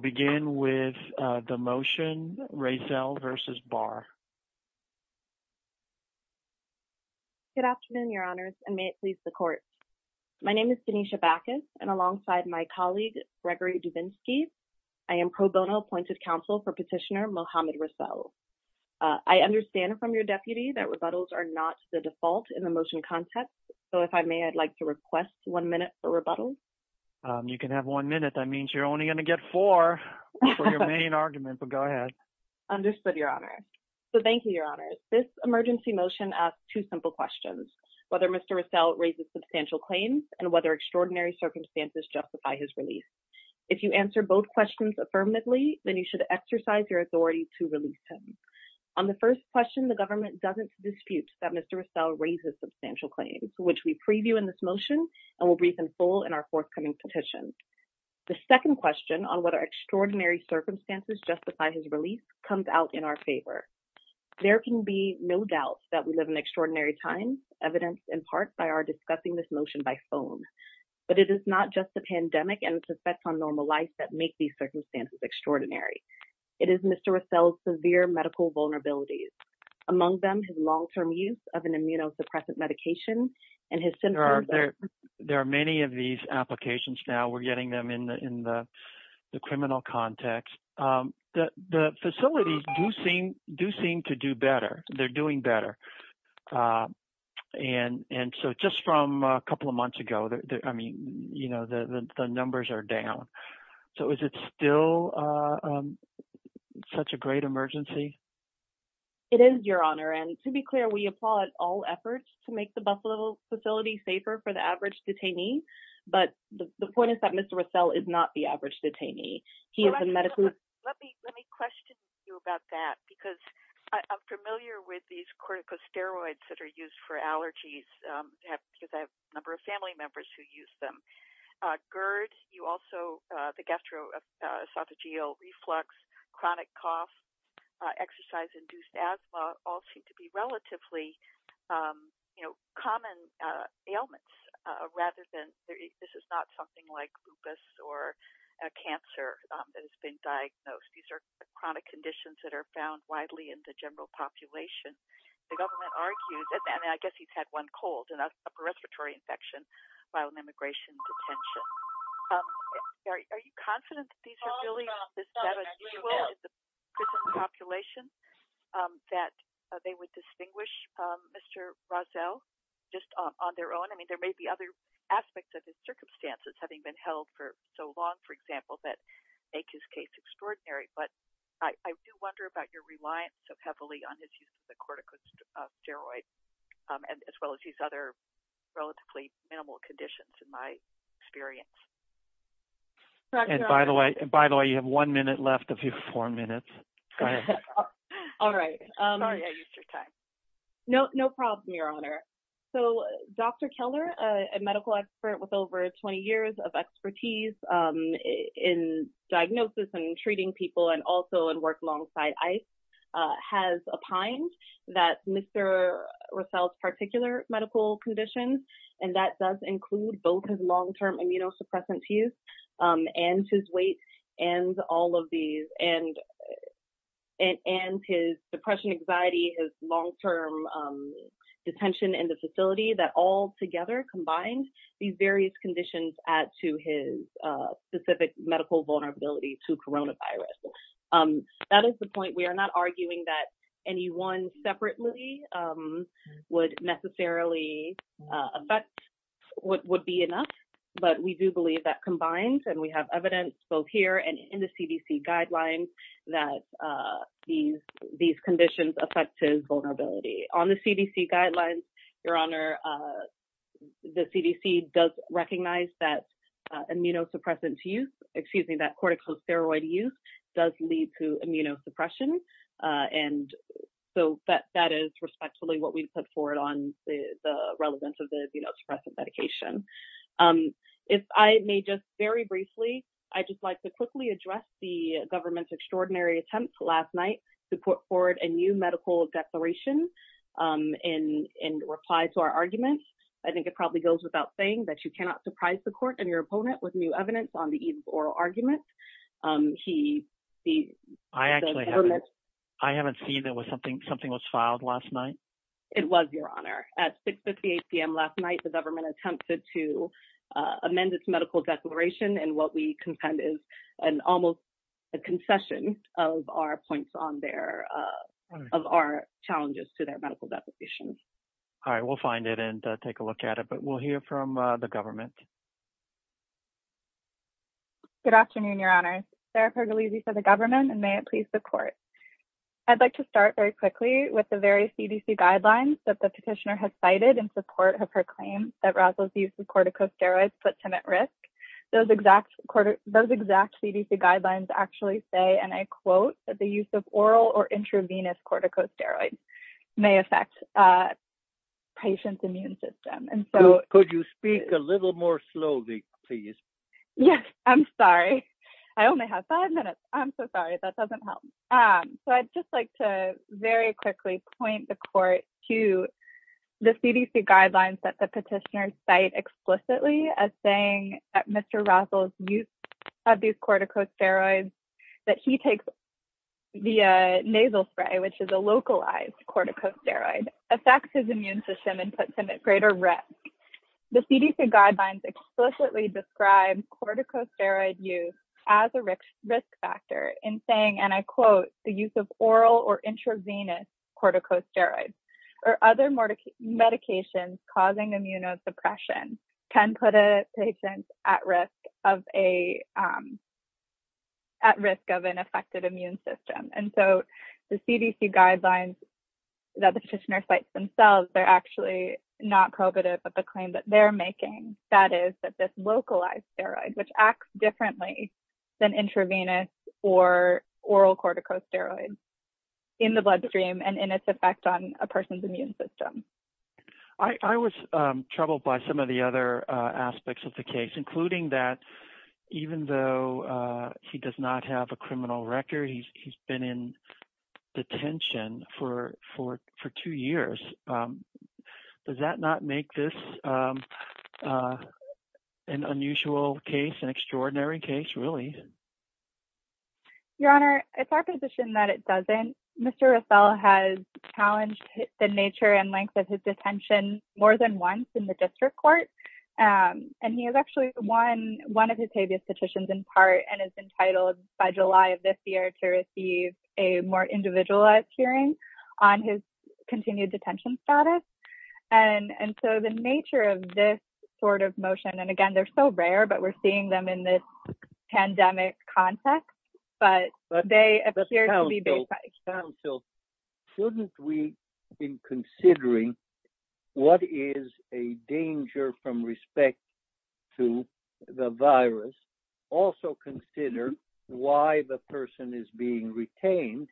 Good afternoon your honors and may it please the court. My name is Denisha Bacchus and alongside my colleague Gregory Dubinsky. I am pro bono appointed counsel for petitioner Mohamed Rousseau. I understand from your deputy that rebuttals are not the default in the motion context. So if I may, I'd like to request one minute for rebuttals. You can have one minute. That means you're only going to get four for your main argument, but go ahead. Understood your honor. So thank you your honors. This emergency motion asks two simple questions. Whether Mr. Rousseau raises substantial claims and whether extraordinary circumstances justify his release. If you answer both questions affirmatively, then you should exercise your authority to release him. On the first question, the government doesn't dispute that Mr. Rousseau raises substantial claims, which we preview in this motion and will brief in full in our forthcoming petition. The second question on whether extraordinary circumstances justify his release comes out in our favor. There can be no doubt that we live in extraordinary times, evidenced in part by our discussing this motion by phone. But it is not just the pandemic and its effects on normal life that make these circumstances extraordinary. It is Mr. Rousseau's severe medical vulnerabilities, among them his long-term use of an immunosuppressant medication and his symptoms. There are many of these applications now. We're getting them in the criminal context. The facilities do seem to do better. They're doing better. And so just from a couple of months ago, I mean, the numbers are down. So is it still such a great emergency? It is, Your Honor. And to be clear, we applaud all efforts to make the Buffalo facility safer for the average detainee. But the point is that Mr. Rousseau is not the average detainee. He is a medical. Let me question you about that, because I'm familiar with these corticosteroids that are used for allergies, because I have a number of family members who use them. GERD, you also, the gastroesophageal reflux, chronic cough, exercise-induced asthma, all seem to be relatively, you know, common ailments. This is not something like lupus or cancer that has been diagnosed. These are chronic conditions that are found widely in the general population. The government argues, and I guess he's had one cold, a respiratory infection while in immigration detention. Are you confident that these are really the seven people in the prison population that they would distinguish Mr. Rousseau just on their own? I mean, there may be other aspects of his circumstances, having been held for so long, for example, that make his case extraordinary. But I do wonder about your reliance so heavily on his use of the corticosteroids, as well as his other relatively minimal conditions, in my experience. And by the way, you have one minute left of your four minutes. Go ahead. All right. Sorry I used your time. No problem, Your Honor. So, Dr. Keller, a medical expert with over 20 years of expertise in diagnosis and treating people and also in work alongside ICE, has opined that Mr. Rousseau's particular medical conditions, and that does include both his long-term immunosuppressant use and his weight and all of these. And his depression, anxiety, his long-term detention in the facility, that all together combined these various conditions add to his specific medical vulnerability to coronavirus. That is the point. We are not arguing that any one separately would necessarily affect, would be enough, but we do believe that combined, and we have evidence both here and in the CDC guidelines, that these conditions affect his vulnerability. On the CDC guidelines, Your Honor, the CDC does recognize that immunosuppressant use, excuse me, that corticosteroid use does lead to immunosuppression. And so that is respectfully what we put forward on the relevance of the immunosuppressant medication. If I may just very briefly, I'd just like to quickly address the government's extraordinary attempt last night to put forward a new medical declaration in reply to our argument. I think it probably goes without saying that you cannot surprise the court and your opponent with new evidence on the oral argument. I haven't seen it. Something was filed last night? It was, Your Honor. At 6.58 p.m. last night, the government attempted to amend its medical declaration. And what we contend is an almost a concession of our points on their, of our challenges to their medical deposition. All right, we'll find it and take a look at it, but we'll hear from the government. Good afternoon, Your Honor. Sarah Pergolese for the government, and may it please the court. I'd like to start very quickly with the various CDC guidelines that the petitioner has cited in support of her claim that Rosalyn's use of corticosteroids puts him at risk. Those exact CDC guidelines actually say, and I quote, that the use of oral or intravenous corticosteroids may affect a patient's immune system. Could you speak a little more slowly, please? Yes, I'm sorry. I only have five minutes. I'm so sorry. That doesn't help. So I'd just like to very quickly point the court to the CDC guidelines that the petitioner cite explicitly as saying that Mr. Rosal's use of these corticosteroids, that he takes the nasal spray, which is a localized corticosteroid, affects his immune system and puts him at greater risk. The CDC guidelines explicitly describe corticosteroid use as a risk factor in saying, and I quote, the use of oral or intravenous corticosteroids or other medications causing immunosuppression can put a patient at risk of an affected immune system. And so the CDC guidelines that the petitioner cites themselves, they're actually not prohibitive of the claim that they're making. That is that this localized steroid, which acts differently than intravenous or oral corticosteroids in the bloodstream and in its effect on a person's immune system. I was troubled by some of the other aspects of the case, including that even though he does not have a criminal record, he's been in detention for two years. Does that not make this an unusual case, an extraordinary case, really? Your Honor, it's our position that it doesn't. Mr. Rosal has challenged the nature and length of his detention more than once in the district court. And he has actually won one of his previous petitions in part and is entitled by July of this year to receive a more individualized hearing on his continued detention status. And so the nature of this sort of motion, and again, they're so rare, but we're seeing them in this pandemic context, but they appear to be basic. Shouldn't we be considering what is a danger from respect to the virus? Also consider why the person is being retained,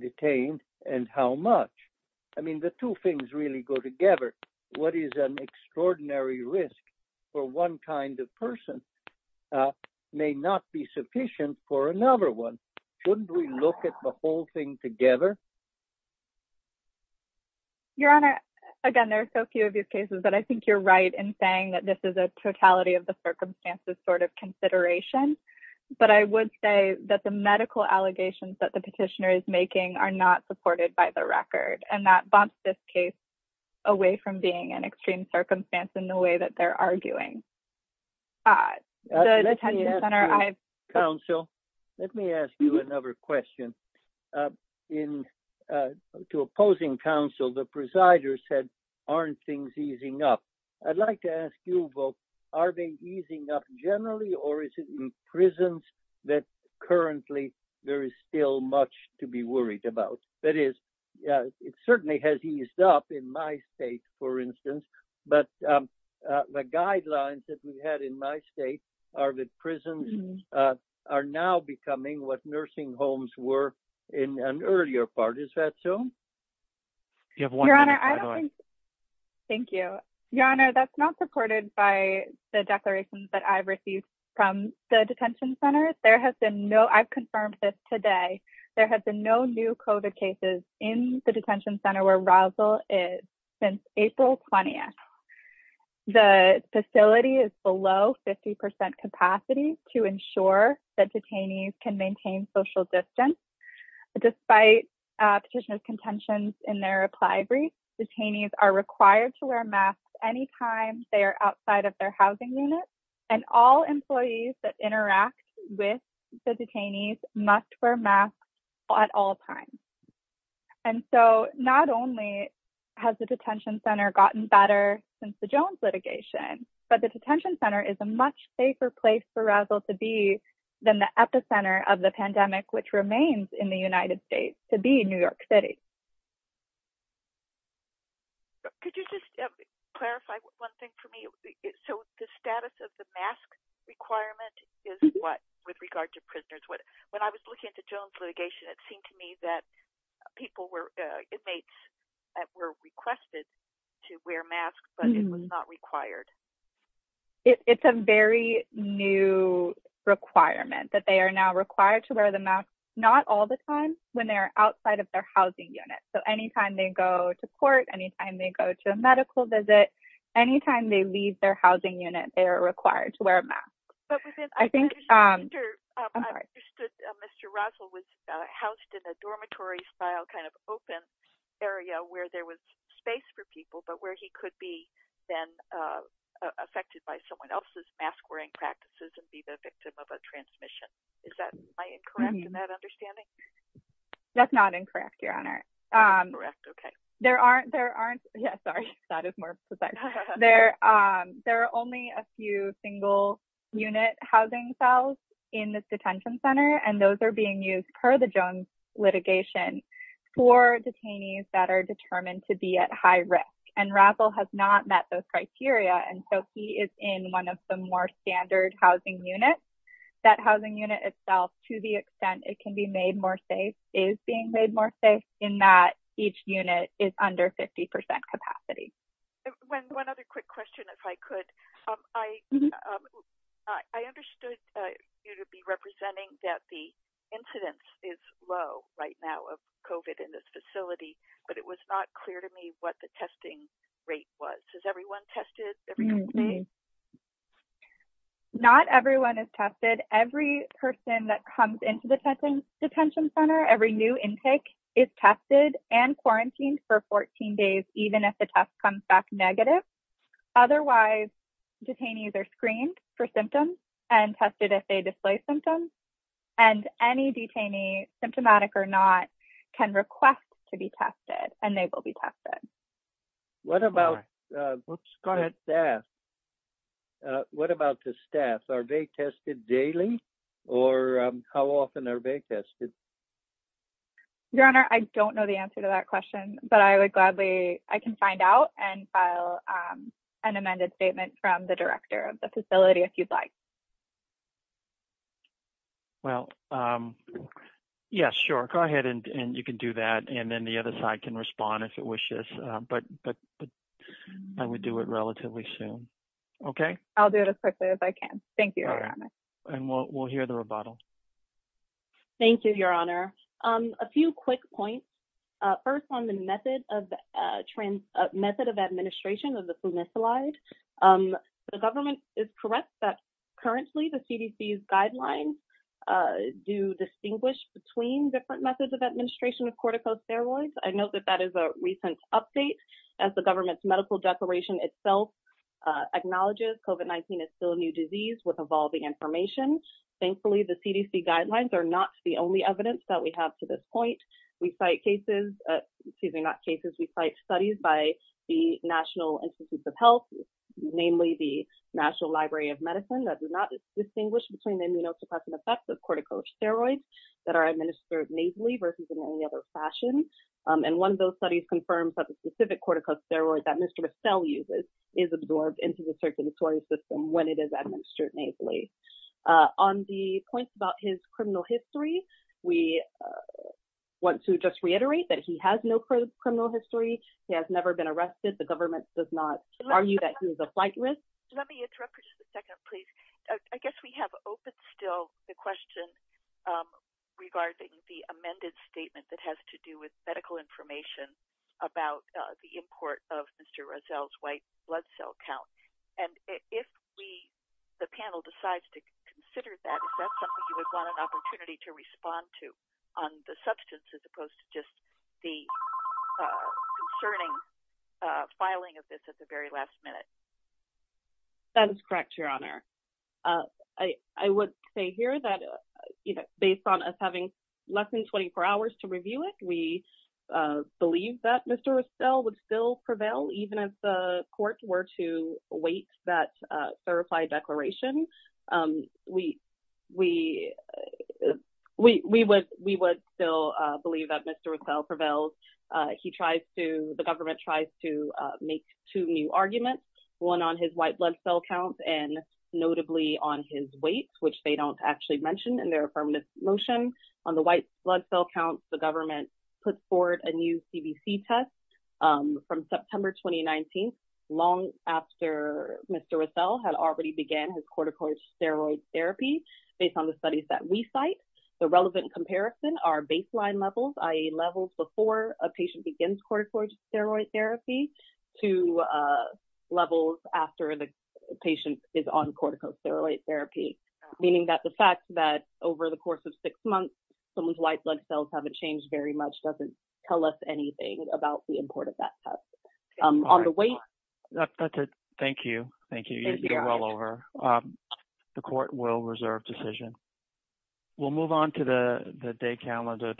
detained, and how much? I mean, the two things really go together. What is an extraordinary risk for one kind of person may not be sufficient for another one. Shouldn't we look at the whole thing together? Your Honor, again, there are so few of these cases, but I think you're right in saying that this is a totality of the circumstances sort of consideration. But I would say that the medical allegations that the petitioner is making are not supported by the record. And that bumps this case away from being an extreme circumstance in the way that they're arguing. Let me ask you another question. To opposing counsel, the presider said, aren't things easing up? I'd like to ask you both, are they easing up generally or is it in prisons that currently there is still much to be worried about? That is, it certainly has eased up in my state, for instance, but the guidelines that we had in my state are that prisons are now becoming what nursing homes were in an earlier part. Is that so? Your Honor, I don't think. Thank you. Your Honor, that's not supported by the declarations that I've received from the detention centers. There has been no, I've confirmed this today. There has been no new COVID cases in the detention center where Rosal is since April 20th. The facility is below 50% capacity to ensure that detainees can maintain social distance. Despite petitioner's contentions in their reply brief, detainees are required to wear masks anytime they are outside of their housing unit and all employees that interact with the detainees must wear masks at all times. And so not only has the detention center gotten better since the Jones litigation, but the detention center is a much safer place for Rosal to be than the epicenter of the pandemic, which remains in the United States to be in New York City. Could you just clarify one thing for me? So the status of the mask requirement is what with regard to prisoners? When I was looking at the Jones litigation, it seemed to me that people were inmates that were requested to wear masks, but it was not required. It's a very new requirement that they are now required to wear the mask, not all the time when they're outside of their housing unit. So anytime they go to court, anytime they go to a medical visit, anytime they leave their housing unit, they are required to wear a mask. I understood Mr. Rosal was housed in a dormitory style kind of open area where there was space for people, but where he could be then affected by someone else's mask wearing practices and be the victim of a transmission. Is that incorrect in that understanding? That's not incorrect, Your Honor. Correct. Okay. Yeah, sorry. That is more precise. One other quick question, if I could. I understood you to be representing that the incidence is low right now of COVID in this facility, but it was not clear to me what the testing rate was. Is everyone tested? Not everyone is tested. Every person that comes into the detention center, every new intake is tested and quarantined for 14 days, even if the test comes back negative. Otherwise, detainees are screened for symptoms and tested if they display symptoms. And any detainee, symptomatic or not, can request to be tested and they will be tested. What about the staff? Are they tested daily? Or how often are they tested? Your Honor, I don't know the answer to that question, but I would gladly, I can find out and file an amended statement from the director of the facility if you'd like. Well, yes, sure. Go ahead and you can do that. And then the other side can respond if it wishes. But I would do it relatively soon. Okay. I'll do it as quickly as I can. Thank you, Your Honor. And we'll hear the rebuttal. Thank you, Your Honor. A few quick points. First, on the method of administration of the Flunisolide, the government is correct that currently the CDC's guidelines do distinguish between different methods of administration of corticosteroids. I know that that is a recent update. As the government's medical declaration itself acknowledges, COVID-19 is still a new disease with evolving information. Thankfully, the CDC guidelines are not the only evidence that we have to this point. We cite cases, excuse me, not cases, we cite studies by the National Institutes of Health, namely the National Library of Medicine, that do not distinguish between the immunosuppressant effects of corticosteroids that are administered nasally versus in any other fashion. And one of those studies confirms that the specific corticosteroid that Mr. Estelle uses is absorbed into the circulatory system when it is administered nasally. On the point about his criminal history, we want to just reiterate that he has no criminal history. He has never been arrested. The government does not argue that he was a flight risk. Let me interrupt for just a second, please. I guess we have open still the question regarding the amended statement that has to do with medical information about the import of Mr. Estelle's white blood cell count. And if the panel decides to consider that, is that something you would want an opportunity to respond to on the substance as opposed to just the concerning filing of this at the very last minute? That is correct, Your Honor. I would say here that, you know, based on us having less than 24 hours to review it, we believe that Mr. Estelle would still prevail even if the court were to await that verified declaration. We would still believe that Mr. Estelle prevails. The government tries to make two new arguments, one on his white blood cell count and notably on his weight, which they don't actually mention in their affirmative motion. On the white blood cell count, the government puts forward a new CBC test from September 2019, long after Mr. Estelle had already began his corticosteroid therapy based on the studies that we cite. The relevant comparison are baseline levels, i.e., levels before a patient begins corticosteroid therapy to levels after the patient is on corticosteroid therapy, meaning that the fact that over the course of six months, someone's white blood cells haven't changed very much doesn't tell us anything about the import of that test. That's it. Thank you. Thank you. You did well over. The court will reserve decision. We'll move on to the day calendar.